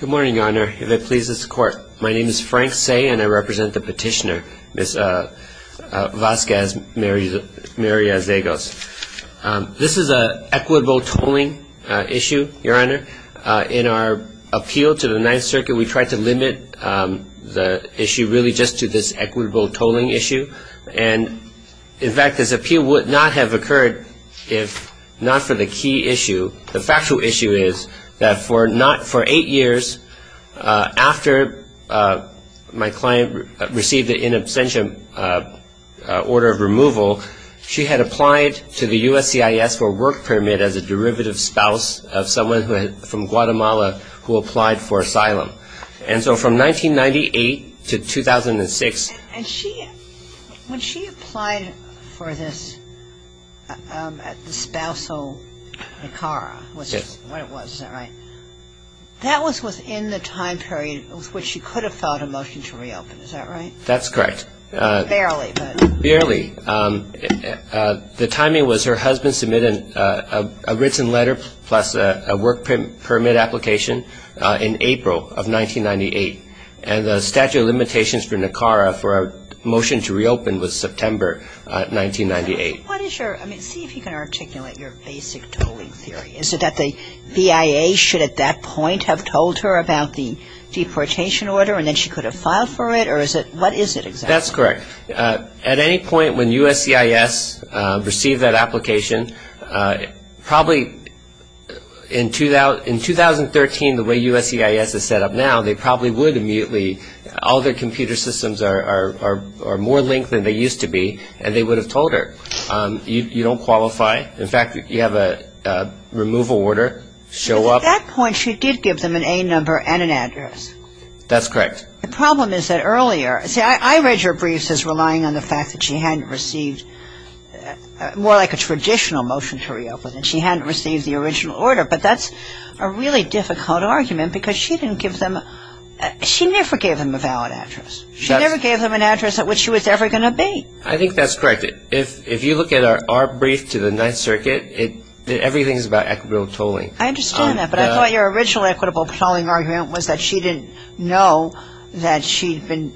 Good morning, Your Honor. If it pleases the Court, my name is Frank Say and I represent the petitioner, Ms. Vasquez-Mariazegos. This is an equitable tolling issue, Your Honor. In our appeal to the Ninth Circuit, we tried to limit the issue really just to this equitable tolling issue. In fact, this appeal would not have occurred if not for the key issue. The factual issue is that for eight years after my client received an in absentia order of removal, she had applied to the USCIS for a work permit as a derivative spouse of someone from Guatemala who applied for asylum. And so from 1998 to 2006... And she, when she applied for this spousal Nicara, which is what it was, is that right? That was within the time period with which she could have filed a motion to reopen, is that right? That's correct. Barely, but... And the statute of limitations for Nicara for a motion to reopen was September 1998. What is your, I mean, see if you can articulate your basic tolling theory. Is it that the BIA should at that point have told her about the deportation order and then she could have filed for it or is it, what is it exactly? That's correct. At any point when USCIS received that application, probably in 2013 the way USCIS is set up now, they probably would immediately, all their computer systems are more linked than they used to be and they would have told her, you don't qualify. In fact, you have a removal order show up. Because at that point she did give them an A number and an address. That's correct. The problem is that earlier, see I read your briefs as relying on the fact that she hadn't received, more like a traditional motion to reopen and she hadn't received the original order, but that's a really difficult argument because she didn't give them, she never gave them a valid address. She never gave them an address at which she was ever going to be. I think that's correct. If you look at our brief to the Ninth Circuit, everything is about equitable tolling. I understand that, but I thought your original equitable tolling argument was that she didn't know that she'd been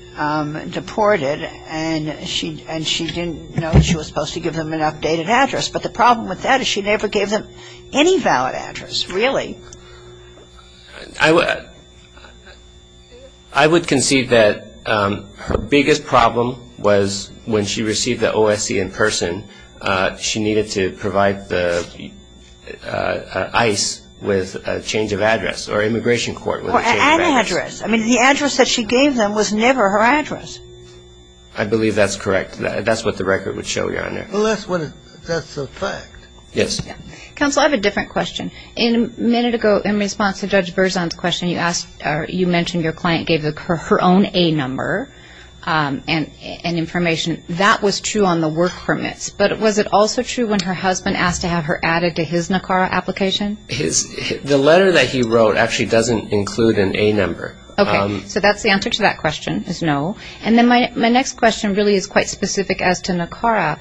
deported and she didn't know she was supposed to give them an updated address. But the problem with that is she never gave them any valid address, really. I would concede that her biggest problem was when she received the OSC in person, she needed to provide the ICE with a change of address or immigration court with a change of address. Or an address. I mean, the address that she gave them was never her address. I believe that's correct. That's what the record would show you on there. Well, that's a fact. Yes. Counsel, I have a different question. A minute ago, in response to Judge Berzon's question, you mentioned your client gave her own A number and information. That was true on the work permits, but was it also true when her husband asked to have her added to his NACARA application? The letter that he wrote actually doesn't include an A number. Okay. So that's the answer to that question, is no. And then my next question really is quite specific as to NACARA.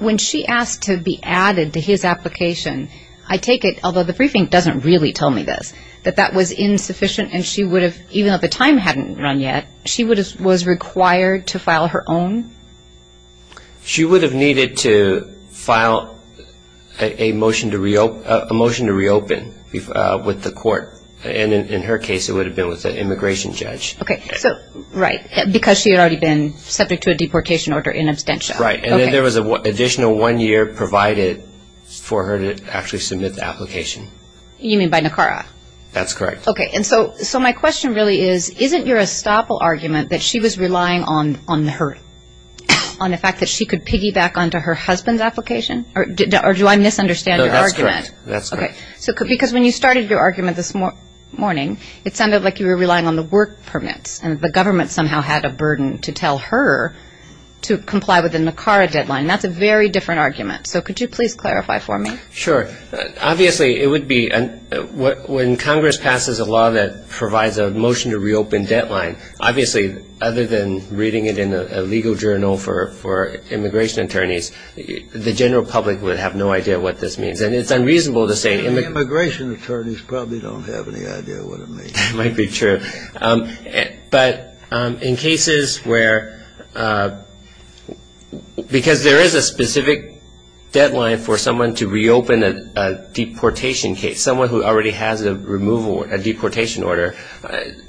When she asked to be added to his application, I take it, although the briefing doesn't really tell me this, that that was insufficient and she would have, even though the time hadn't run yet, she was required to file her own? She would have needed to file a motion to reopen with the court. And in her case, it would have been with an immigration judge. Okay. Right. Because she had already been subject to a deportation order in absentia. Right. And then there was an additional one year provided for her to actually submit the application. You mean by NACARA? That's correct. Okay. And so my question really is, isn't your estoppel argument that she was relying on her, on the fact that she could piggyback onto her husband's application? Or do I misunderstand your argument? No, that's correct. Because when you started your argument this morning, it sounded like you were relying on the work permits and the government somehow had a burden to tell her to comply with the NACARA deadline. That's a very different argument. So could you please clarify for me? Sure. Obviously, it would be, when Congress passes a law that provides a motion to reopen deadline, obviously other than reading it in a legal journal for immigration attorneys, the general public would have no idea what this means. And it's unreasonable to say. Immigration attorneys probably don't have any idea what it means. That might be true. But in cases where, because there is a specific deadline for someone to reopen a deportation case, someone who already has a removal, a deportation order,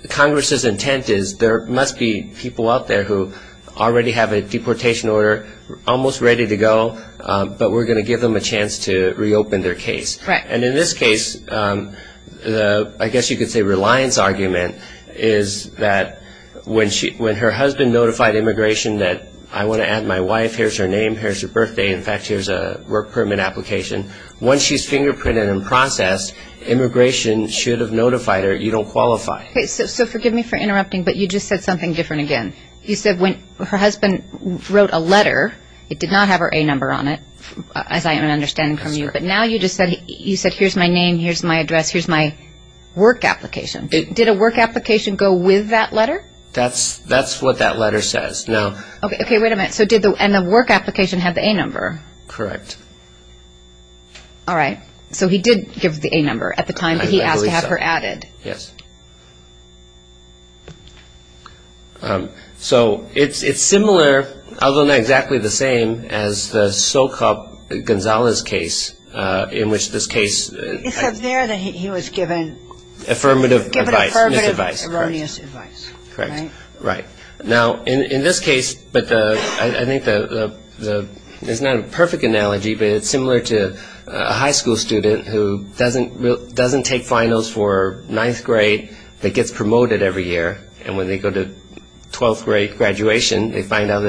Congress's intent is there must be people out there who already have a deportation order, almost ready to go, but we're going to give them a chance to reopen their case. And in this case, I guess you could say reliance argument is that when her husband notified immigration that, I want to add my wife, here's her name, here's her birthday, in fact, here's a work permit application. Once she's fingerprinted and processed, immigration should have notified her you don't qualify. Okay, so forgive me for interrupting, but you just said something different again. You said when her husband wrote a letter, it did not have her A number on it, as I am understanding from you. That's correct. But now you just said, you said, here's my name, here's my address, here's my work application. Did a work application go with that letter? That's what that letter says. Okay, wait a minute. So did the work application have the A number? Correct. All right. So he did give her the A number at the time that he asked to have her added. Yes. So it's similar, although not exactly the same, as the Socop-Gonzalez case, in which this case. It's up there that he was given. Affirmative advice. Affirmative, erroneous advice. Correct. Right. Now, in this case, but I think there's not a perfect analogy, but it's similar to a high school student who doesn't take finals for ninth grade, that gets promoted every year, and when they go to twelfth grade graduation, they find out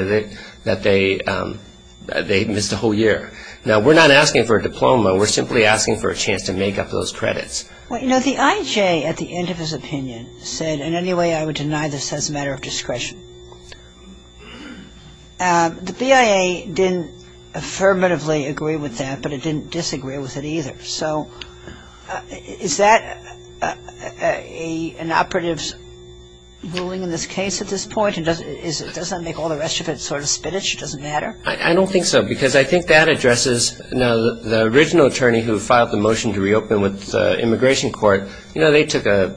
that they missed a whole year. Now, we're not asking for a diploma. We're simply asking for a chance to make up those credits. Well, you know, the IJ, at the end of his opinion, said, in any way I would deny this as a matter of discretion. The BIA didn't affirmatively agree with that, but it didn't disagree with it either. So is that an operative's ruling in this case at this point, and does that make all the rest of it sort of spinach? It doesn't matter? I don't think so, because I think that addresses, you know, the original attorney who filed the motion to reopen with the immigration court, you know, they took an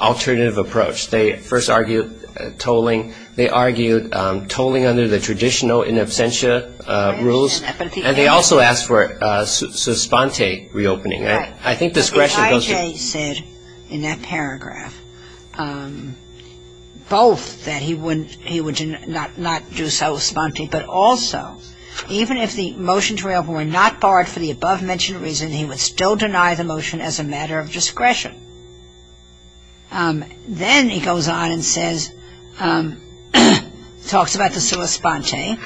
alternative approach. They first argued tolling. They argued tolling under the traditional in absentia rules, and they also asked for a su sponte reopening. Right. But the IJ said in that paragraph both that he would not do so sponte, but also even if the motion to reopen were not barred for the above-mentioned reason, he would still deny the motion as a matter of discretion. Then he goes on and says, talks about the su sponte,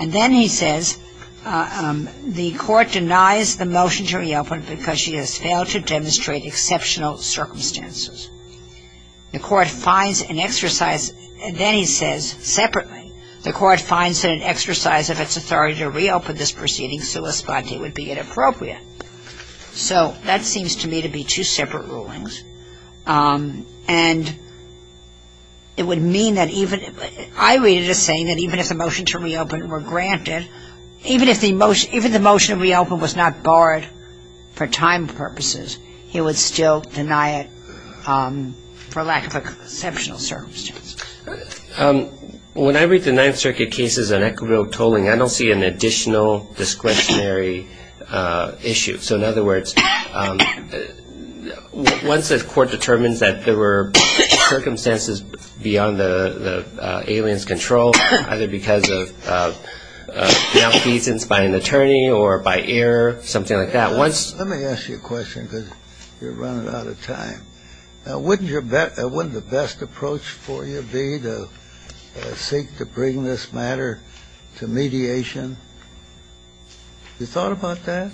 and then he says the court denies the motion to reopen because she has failed to demonstrate exceptional circumstances. The court finds an exercise, then he says separately, the court finds that an exercise of its authority to reopen this proceeding su sponte would be inappropriate. So that seems to me to be two separate rulings. And it would mean that even, I read it as saying that even if the motion to reopen were granted, even if the motion to reopen was not barred for time purposes, he would still deny it for lack of exceptional circumstances. When I read the Ninth Circuit cases on equitable tolling, I don't see an additional discretionary issue. So in other words, once the court determines that there were circumstances beyond the alien's control, either because of malfeasance by an attorney or by error, something like that, once you're running out of time, wouldn't the best approach for you be to seek to bring this matter to mediation? You thought about that?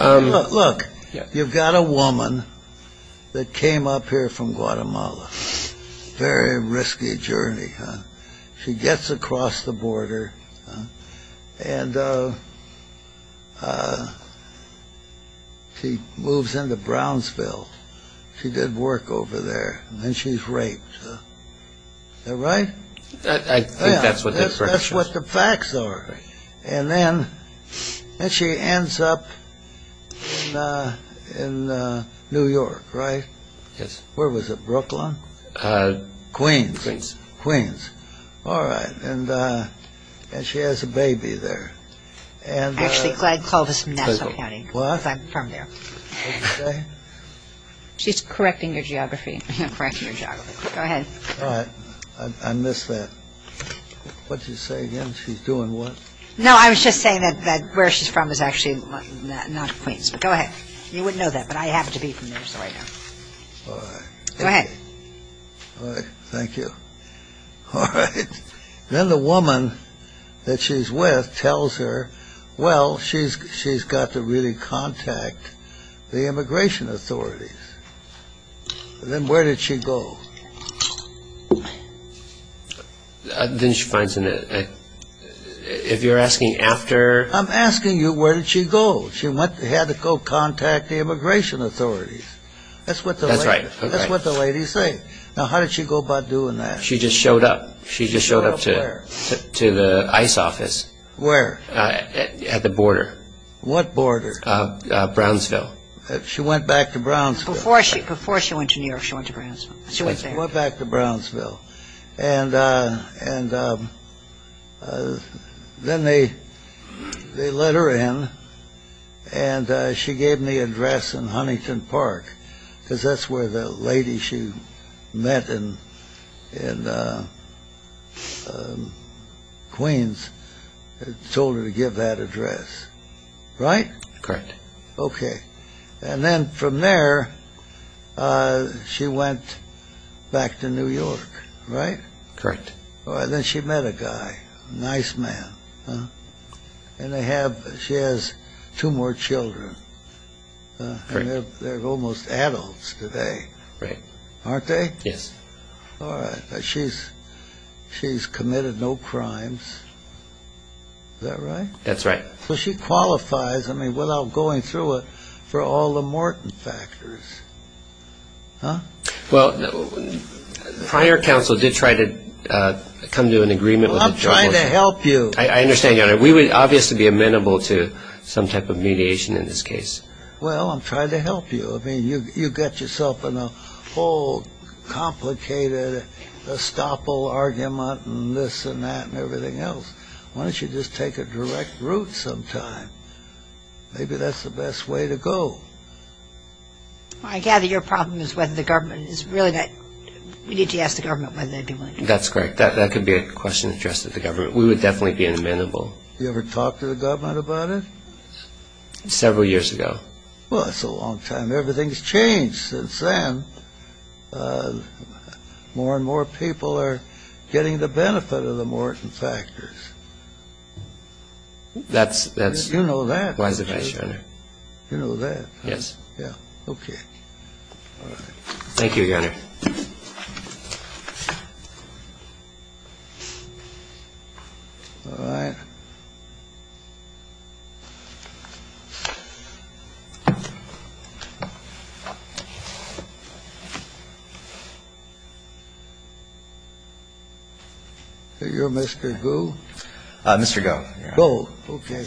Look, you've got a woman that came up here from Guatemala. Very risky journey, huh? She gets across the border and she moves into Brownsville. She did work over there. And then she's raped. Is that right? I think that's what that question is. That's what the facts are. And then she ends up in New York, right? Yes. Where was it, Brooklyn? Queens. Queens. All right. And she has a baby there. Actually, I'd call this Nassau County. What? Because I'm from there. What did you say? She's correcting your geography. Correcting your geography. Go ahead. All right. I missed that. What did you say again? She's doing what? No, I was just saying that where she's from is actually not Queens. But go ahead. You wouldn't know that, but I happen to be from there, so I know. All right. Go ahead. All right. Thank you. All right. Then the woman that she's with tells her, well, she's got to really contact the immigration authorities. Then where did she go? Then she finds a ñ if you're asking after ñ I'm asking you where did she go. She had to go contact the immigration authorities. That's what the lady said. That's right. Now, how did she go about doing that? She just showed up. She just showed up to the ICE office. Where? At the border. What border? She went back to Brownsville. Before she went to New York, she went to Brownsville. She went back to Brownsville. And then they let her in, and she gave me an address in Huntington Park, because that's where the lady she met in Queens told her to give that address. Right? Correct. Okay. And then from there, she went back to New York. Right? Correct. Then she met a guy, a nice man. And they have ñ she has two more children. They're almost adults today. Right. Aren't they? Yes. All right. She's committed no crimes. Is that right? That's right. So she qualifies, I mean, without going through it, for all the Morton factors. Huh? Well, prior counsel did try to come to an agreement with the judge. Well, I'm trying to help you. I understand, Your Honor. We would obviously be amenable to some type of mediation in this case. Well, I'm trying to help you. I mean, you got yourself in a whole complicated estoppel argument and this and that and everything else. Why don't you just take a direct route sometime? Maybe that's the best way to go. I gather your problem is whether the government is really ñ we need to ask the government whether they'd be willing to do it. That's correct. That could be a question addressed to the government. We would definitely be amenable. You ever talk to the government about it? Several years ago. Well, that's a long time. Everything's changed since then. More and more people are getting the benefit of the Morton factors. That's ñ You know that, right? You know that? Yes. Yeah. Okay. All right. Thank you, Your Honor. All right. So you're Mr. Gu? Mr. Go. Go. Okay.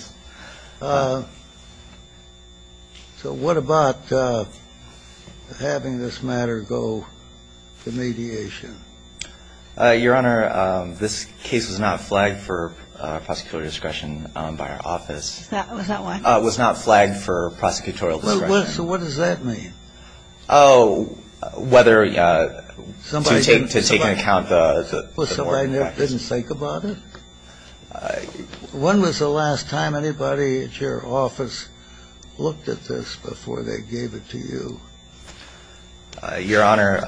So what about having this matter go to mediation? Your Honor, this case was not flagged for prosecutorial discretion by our office. Was that why? It was not flagged for prosecutorial discretion. So what does that mean? Oh, whether ñ to take into account the Morton factors. Somebody didn't think about it? When was the last time anybody at your office looked at this before they gave it to you? Your Honor,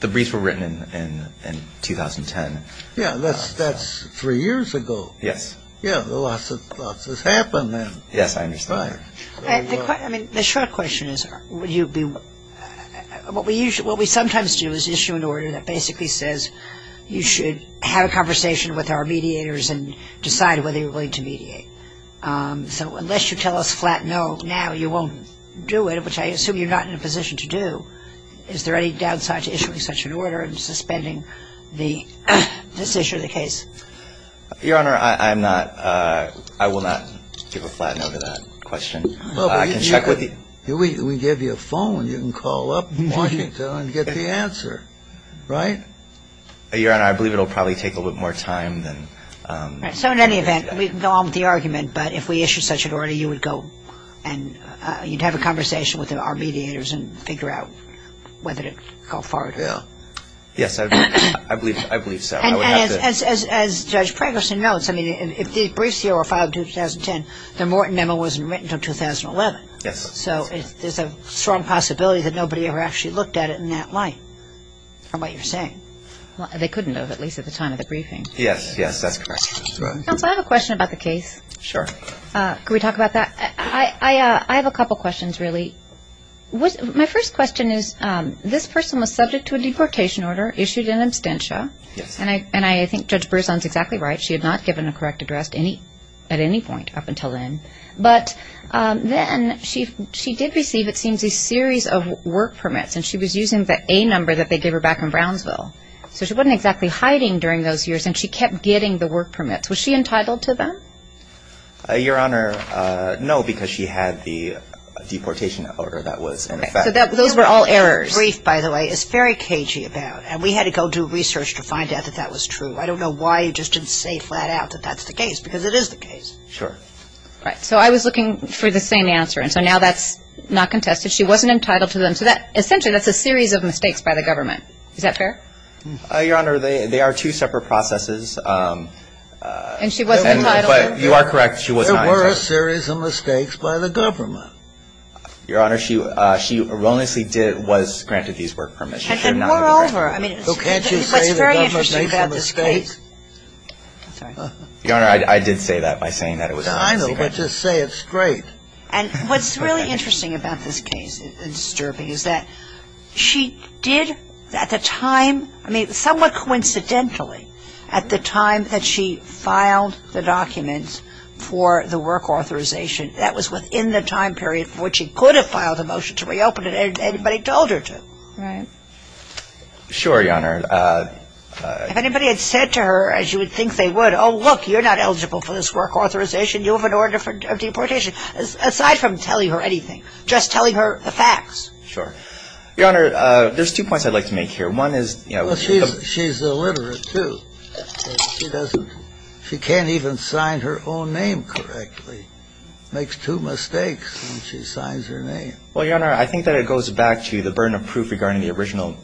the briefs were written in 2010. Yeah, that's three years ago. Yes. Yeah, lots has happened. Yes, I understand. All right. I mean, the short question is would you be ñ what we sometimes do is issue an order that basically says you should have a conversation with our mediators and decide whether you're willing to mediate. So unless you tell us flat no now, you won't do it, which I assume you're not in a position to do. Is there any downside to issuing such an order and suspending this issue of the case? Your Honor, I'm not ñ I will not give a flat no to that question. I can check with the ñ We give you a phone. You can call up and get the answer, right? Your Honor, I believe it will probably take a little bit more time than ñ So in any event, we can go on with the argument. But if we issue such an order, you would go and you'd have a conversation with our mediators and figure out whether to go forward. Yeah. Yes, I believe so. And as Judge Pregerson notes, I mean, if these briefs here were filed in 2010, the Morton memo wasn't written until 2011. Yes. So there's a strong possibility that nobody ever actually looked at it in that light, from what you're saying. They couldn't have, at least at the time of the briefing. Yes, yes, that's correct. Counsel, I have a question about the case. Sure. Can we talk about that? I have a couple questions, really. My first question is this person was subject to a deportation order issued in absentia. Yes. And I think Judge Pregerson's exactly right. She had not given a correct address at any point up until then. But then she did receive, it seems, a series of work permits, and she was using the A number that they gave her back in Brownsville. So she wasn't exactly hiding during those years, and she kept getting the work permits. Was she entitled to them? Your Honor, no, because she had the deportation order that was in effect. So those were all errors. The brief, by the way, is very cagey about it, and we had to go do research to find out that that was true. I don't know why you just didn't say flat out that that's the case, because it is the case. Sure. Right. So I was looking for the same answer, and so now that's not contested. She wasn't entitled to them. So essentially that's a series of mistakes by the government. Is that fair? Your Honor, they are two separate processes. And she wasn't entitled? You are correct. There were a series of mistakes by the government. Your Honor, she erroneously was granted these work permits. And moreover, I mean, what's very interesting about this case. Well, can't you say the government made some mistakes? Your Honor, I did say that by saying that it was erroneously granted. I know, but just say it straight. And what's really interesting about this case and disturbing is that she did at the time I mean, somewhat coincidentally, at the time that she filed the documents for the work authorization, that was within the time period for which she could have filed the motion to reopen it, and anybody told her to. Right. Sure, Your Honor. If anybody had said to her, as you would think they would, oh, look, you're not eligible for this work authorization. You have an order for deportation. Aside from telling her anything, just telling her the facts. Sure. Your Honor, there's two points I'd like to make here. One is, you know. Well, she's illiterate, too. She can't even sign her own name correctly. Makes two mistakes when she signs her name. Well, Your Honor, I think that it goes back to the burden of proof regarding the original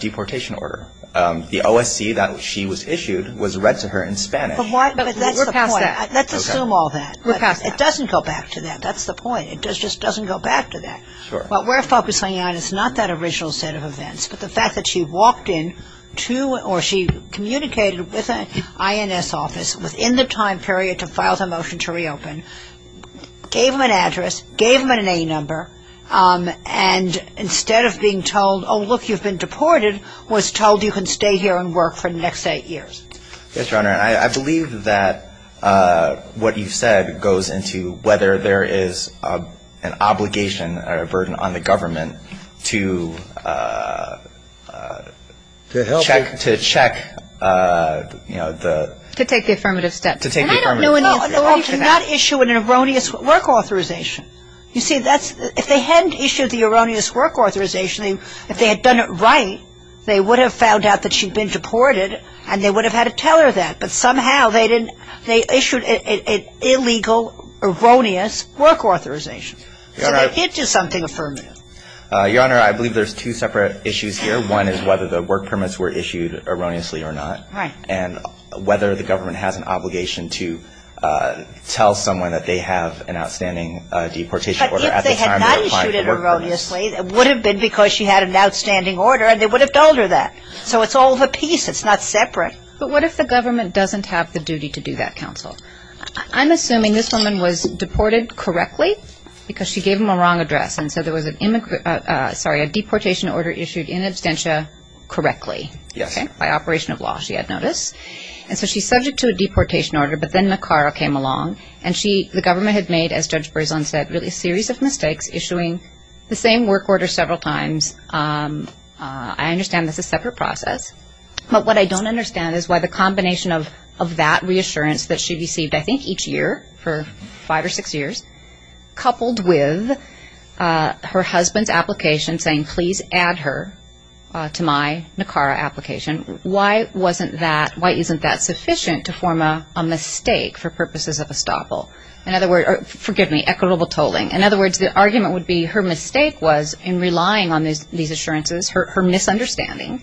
deportation order. The OSC that she was issued was read to her in Spanish. But that's the point. We're past that. Let's assume all that. We're past that. It doesn't go back to that. That's the point. It just doesn't go back to that. Sure. What we're focusing on is not that original set of events, but the fact that she walked in to or she communicated with an INS office within the time period to file the motion to reopen, gave them an address, gave them an A number, and instead of being told, oh, look, you've been deported, was told you can stay here and work for the next eight years. Yes, Your Honor. I believe that what you've said goes into whether there is an obligation or a burden on the government to check, you know, the. To take the affirmative step. To take the affirmative step. And I don't know any authority to not issue an erroneous work authorization. You see, if they hadn't issued the erroneous work authorization, if they had done it right, they would have found out that she'd been deported and they would have had to tell her that. But somehow they didn't. They issued an illegal, erroneous work authorization. So they did do something affirmative. Your Honor, I believe there's two separate issues here. One is whether the work permits were issued erroneously or not. Right. And whether the government has an obligation to tell someone that they have an outstanding deportation order. But if they had not issued it erroneously, it would have been because she had an outstanding order and they would have told her that. So it's all of a piece. It's not separate. But what if the government doesn't have the duty to do that, counsel? I'm assuming this woman was deported correctly because she gave them a wrong address. And so there was an immigrant ‑‑ sorry, a deportation order issued in absentia correctly. Yes. By operation of law, she had notice. And so she's subject to a deportation order. But then McCarroll came along. And the government had made, as Judge Berzon said, really a series of mistakes, issuing the same work order several times. I understand this is a separate process. But what I don't understand is why the combination of that reassurance that she received, I think each year for five or six years, coupled with her husband's application saying, please add her to my NACARA application, why wasn't that ‑‑ why isn't that sufficient to form a mistake for purposes of estoppel? In other words ‑‑ forgive me, equitable tolling. In other words, the argument would be her mistake was in relying on these assurances, her misunderstanding.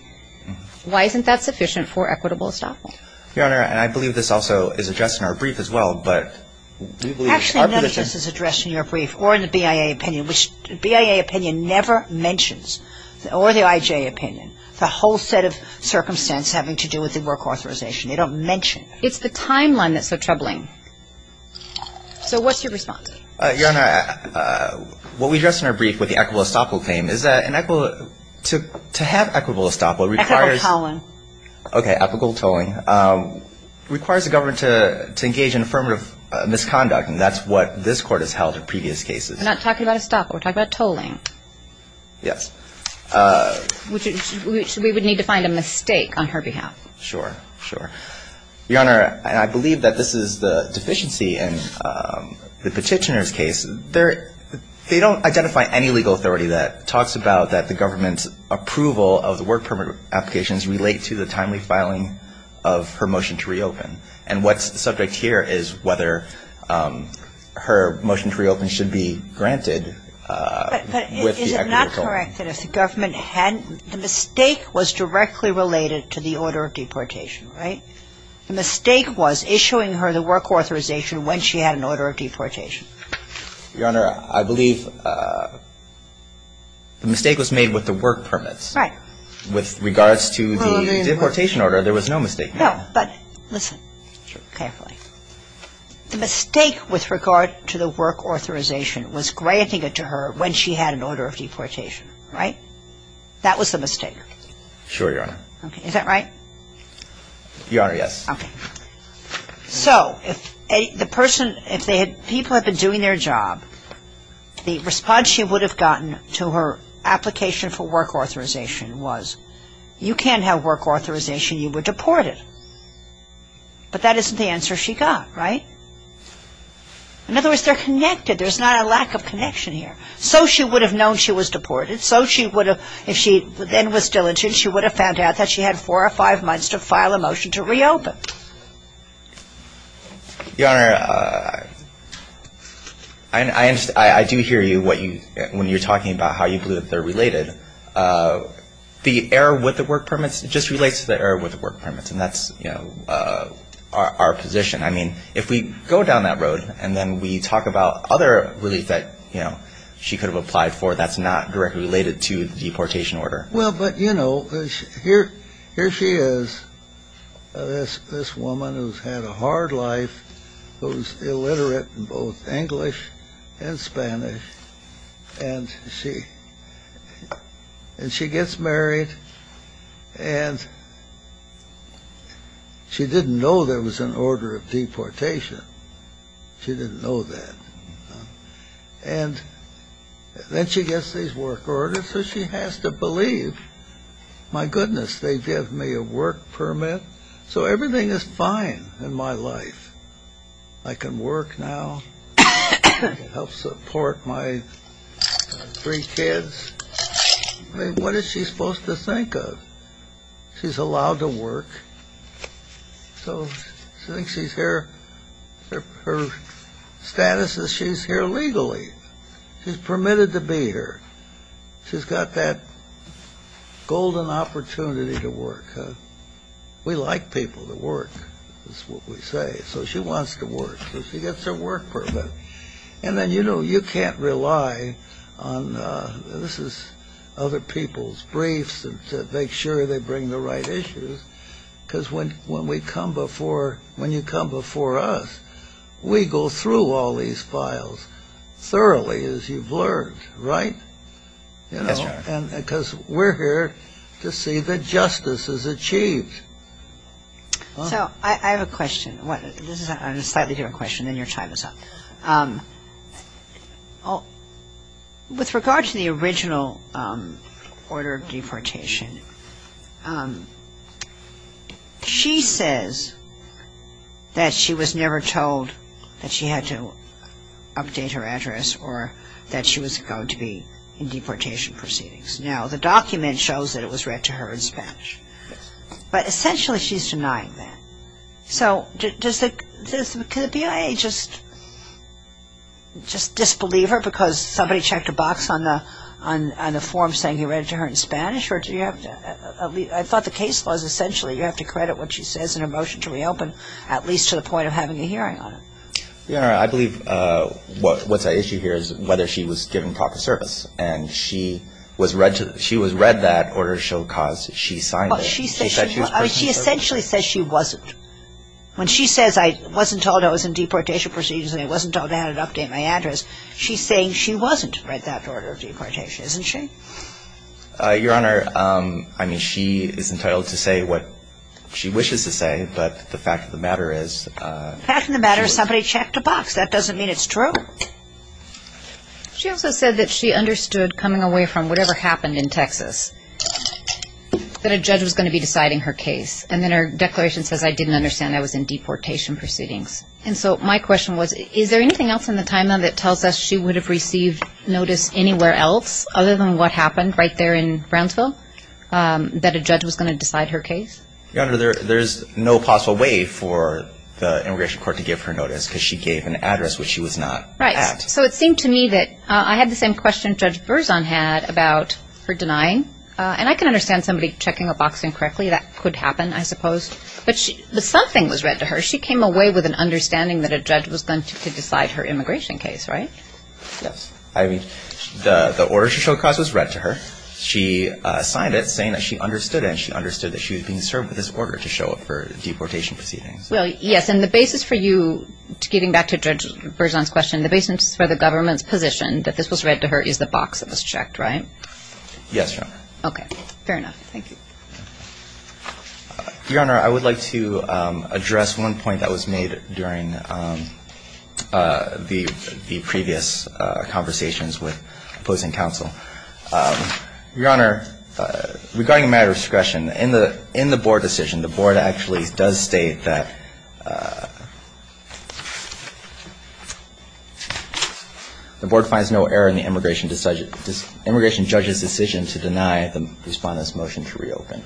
Why isn't that sufficient for equitable estoppel? Your Honor, and I believe this also is addressed in our brief as well, but we believe our position ‑‑ Actually, none of this is addressed in your brief or in the BIA opinion, which the BIA opinion never mentions or the IJ opinion. It's a whole set of circumstance having to do with the work authorization. They don't mention. It's the timeline that's so troubling. So what's your response? Your Honor, what we address in our brief with the equitable estoppel claim is that an equitable ‑‑ to have equitable estoppel requires ‑‑ Equitable tolling. Okay, equitable tolling. Requires the government to engage in affirmative misconduct, and that's what this Court has held in previous cases. We're not talking about estoppel. We're talking about tolling. Yes. Which we would need to find a mistake on her behalf. Sure. Sure. Your Honor, I believe that this is the deficiency in the Petitioner's case. They don't identify any legal authority that talks about that the government's approval of the work permit applications relate to the timely filing of her motion to reopen. And what's the subject here is whether her motion to reopen should be granted with the equitable ‑‑ If the government hadn't ‑‑ the mistake was directly related to the order of deportation, right? The mistake was issuing her the work authorization when she had an order of deportation. Your Honor, I believe the mistake was made with the work permits. Right. With regards to the deportation order, there was no mistake. No, but listen carefully. The mistake with regard to the work authorization was granting it to her when she had an order of deportation, right? That was the mistake. Sure, Your Honor. Okay. Is that right? Your Honor, yes. Okay. So if the person ‑‑ if they had ‑‑ people had been doing their job, the response she would have gotten to her application for work authorization was, you can't have work authorization, you were deported. But that isn't the answer she got, right? In other words, they're connected. There's not a lack of connection here. So she would have known she was deported. So she would have, if she then was diligent, she would have found out that she had four or five months to file a motion to reopen. Your Honor, I do hear you when you're talking about how you believe they're related. The error with the work permits just relates to the error with the work permits, and that's, you know, our position. I mean, if we go down that road and then we talk about other relief that, you know, she could have applied for, that's not directly related to the deportation order. Well, but, you know, here she is, this woman who's had a hard life, who's illiterate in both English and Spanish, and she gets married, and she didn't know there was an order of deportation. She didn't know that. And then she gets these work orders, so she has to believe, my goodness, they give me a work permit, so everything is fine in my life. I can work now, help support my three kids. I mean, what is she supposed to think of? She's allowed to work, so she thinks her status is she's here legally. She's permitted to be here. She's got that golden opportunity to work. We like people to work, is what we say, so she wants to work, so she gets her work permit. And then, you know, you can't rely on, this is other people's briefs, to make sure they bring the right issues, because when we come before, when you come before us, we go through all these files thoroughly as you've learned, right? Yes, sir. Because we're here to see that justice is achieved. So I have a question. This is a slightly different question, then your time is up. With regard to the original order of deportation, she says that she was never told that she had to update her address or that she was going to be in deportation proceedings. Now, the document shows that it was read to her in Spanish, but essentially she's denying that. So does the BIA just disbelieve her because somebody checked a box on the form saying he read it to her in Spanish? I thought the case was essentially you have to credit what she says in her motion to reopen, at least to the point of having a hearing on it. Your Honor, I believe what's at issue here is whether she was given proper service, and she was read that order to show cause she signed it. She essentially says she wasn't. When she says I wasn't told I was in deportation proceedings and I wasn't told I had to update my address, she's saying she wasn't read that order of deportation, isn't she? Your Honor, I mean, she is entitled to say what she wishes to say, but the fact of the matter is ‑‑ The fact of the matter is somebody checked a box. That doesn't mean it's true. She also said that she understood coming away from whatever happened in Texas that a judge was going to be deciding her case, and then her declaration says I didn't understand I was in deportation proceedings. And so my question was is there anything else in the timeline that tells us she would have received notice anywhere else other than what happened right there in Brownsville that a judge was going to decide her case? Your Honor, there's no possible way for the immigration court to give her notice because she gave an address which she was not at. So it seemed to me that I had the same question Judge Berzon had about her denying, and I can understand somebody checking a box incorrectly. That could happen, I suppose. But something was read to her. She came away with an understanding that a judge was going to decide her immigration case, right? Yes. I mean, the order she showed across was read to her. She signed it saying that she understood it, and she understood that she was being served with this order to show up for deportation proceedings. Well, yes, and the basis for you getting back to Judge Berzon's question, the basis for the government's position that this was read to her is the box that was checked, right? Yes, Your Honor. Okay. Fair enough. Thank you. Your Honor, I would like to address one point that was made during the previous conversations with opposing counsel. Your Honor, regarding a matter of discretion, in the board decision, the board actually does state that the board finds no error in the immigration judge's decision to deny the Respondent's motion to reopen.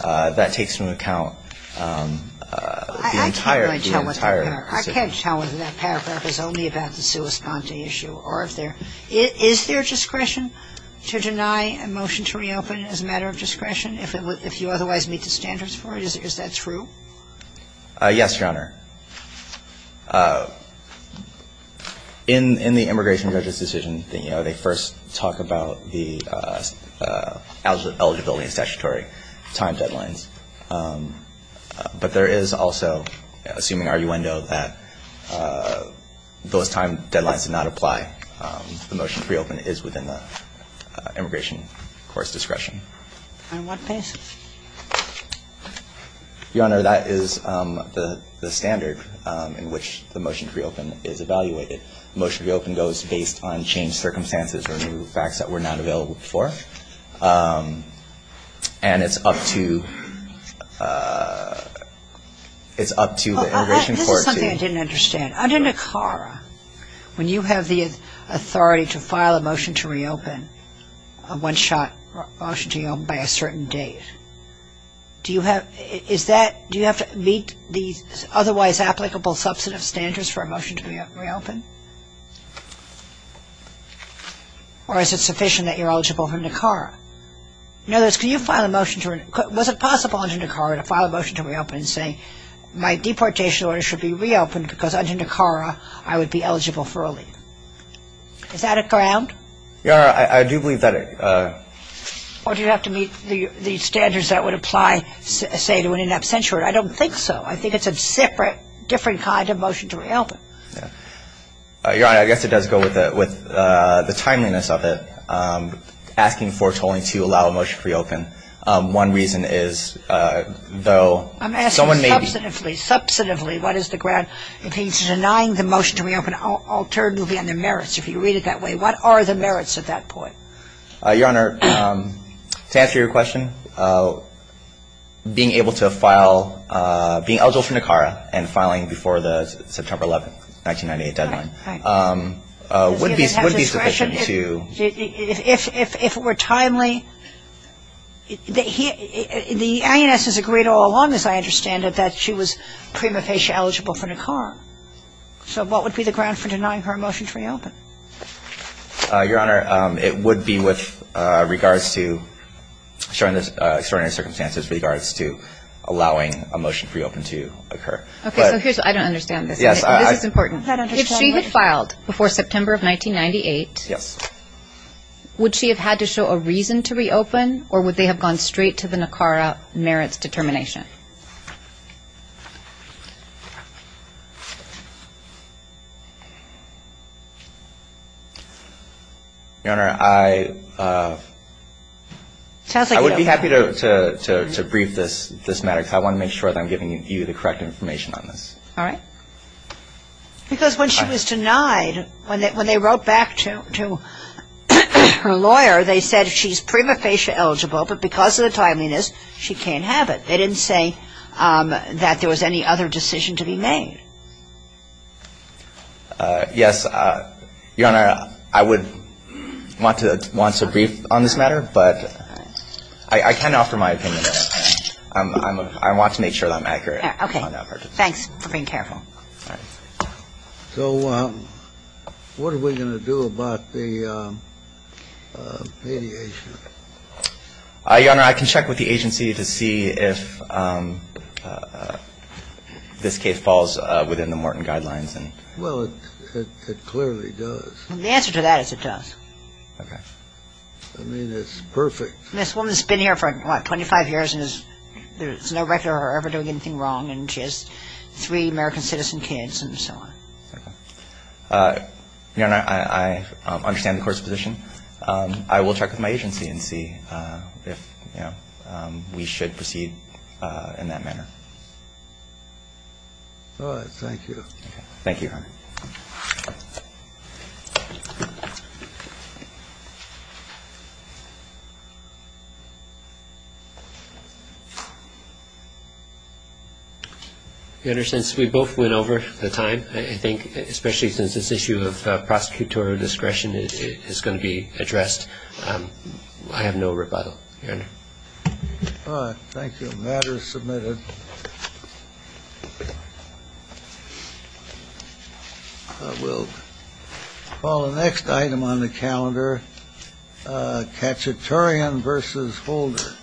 That takes into account the entire decision. I can't tell whether that paragraph is only about the sua sponte issue or if there Is there discretion to deny a motion to reopen as a matter of discretion if you otherwise meet the standards for it? Is that true? Yes, Your Honor. In the immigration judge's decision, you know, they first talk about the eligibility and statutory time deadlines. But there is also, assuming arguendo, that those time deadlines do not apply. The motion to reopen is within the immigration court's discretion. On what basis? Your Honor, that is the standard in which the motion to reopen is evaluated. The motion to reopen goes based on changed circumstances or new facts that were not available before. And it's up to the immigration court to This is something I didn't understand. Under NACARA, when you have the authority to file a motion to reopen, a one-shot motion to reopen by a certain date, do you have to meet the otherwise applicable substantive standards for a motion to reopen? Or is it sufficient that you're eligible for NACARA? In other words, was it possible under NACARA to file a motion to reopen saying, my deportation order should be reopened because under NACARA I would be eligible for a leave? Is that a ground? Your Honor, I do believe that it Or do you have to meet the standards that would apply, say, to an in absentia order? I don't think so. I think it's a different kind of motion to reopen. Your Honor, I guess it does go with the timeliness of it. Asking for tolling to allow a motion to reopen. One reason is though I'm asking substantively. Substantively, what is the ground? If he's denying the motion to reopen, I'll turn to the merits. If you read it that way, what are the merits at that point? Your Honor, to answer your question, being able to file being eligible for NACARA and filing before the September 11, 1998 deadline would be sufficient to If it were timely The INS has agreed all along, as I understand it, that she was prima facie eligible for NACARA. So what would be the ground for denying her a motion to reopen? Your Honor, it would be with regards to showing the extraordinary circumstances with regards to allowing a motion to reopen to occur. I don't understand this. This is important. If she had filed before September of 1998 would she have had to show a reason to reopen or would they have gone straight to the NACARA merits determination? Your Honor, I I would be happy to brief this matter because I want to make sure that I'm giving you the correct information on this. All right. Because when she was denied when they wrote back to her lawyer they said she's prima facie eligible but because of the timeliness, she can't have it. They didn't say that there was any other decision to be made. Yes. Your Honor, I would want to brief on this matter but I can't offer my opinion. I want to make sure that I'm accurate. Okay. Thanks for being careful. All right. So what are we going to do about the variation? Your Honor, I can check with the agency to see if this case falls within the Morton guidelines. Well, it clearly does. The answer to that is it does. Okay. I mean, it's perfect. This woman's been here for, what, 25 years and there's no record of her ever doing anything wrong and she has three American citizen kids and so on. Okay. Your Honor, I understand the Court's position. I will check with my agency and see if, you know, we should proceed in that manner. All right. Thank you. Thank you, Your Honor. Your Honor, since we both went over the time, I think, especially since this issue of prosecutorial discretion is going to be addressed, I have no rebuttal. Your Honor. All right. Thank you. The matter is submitted. We'll call the next item on the calendar, Katchatarian v. Holder.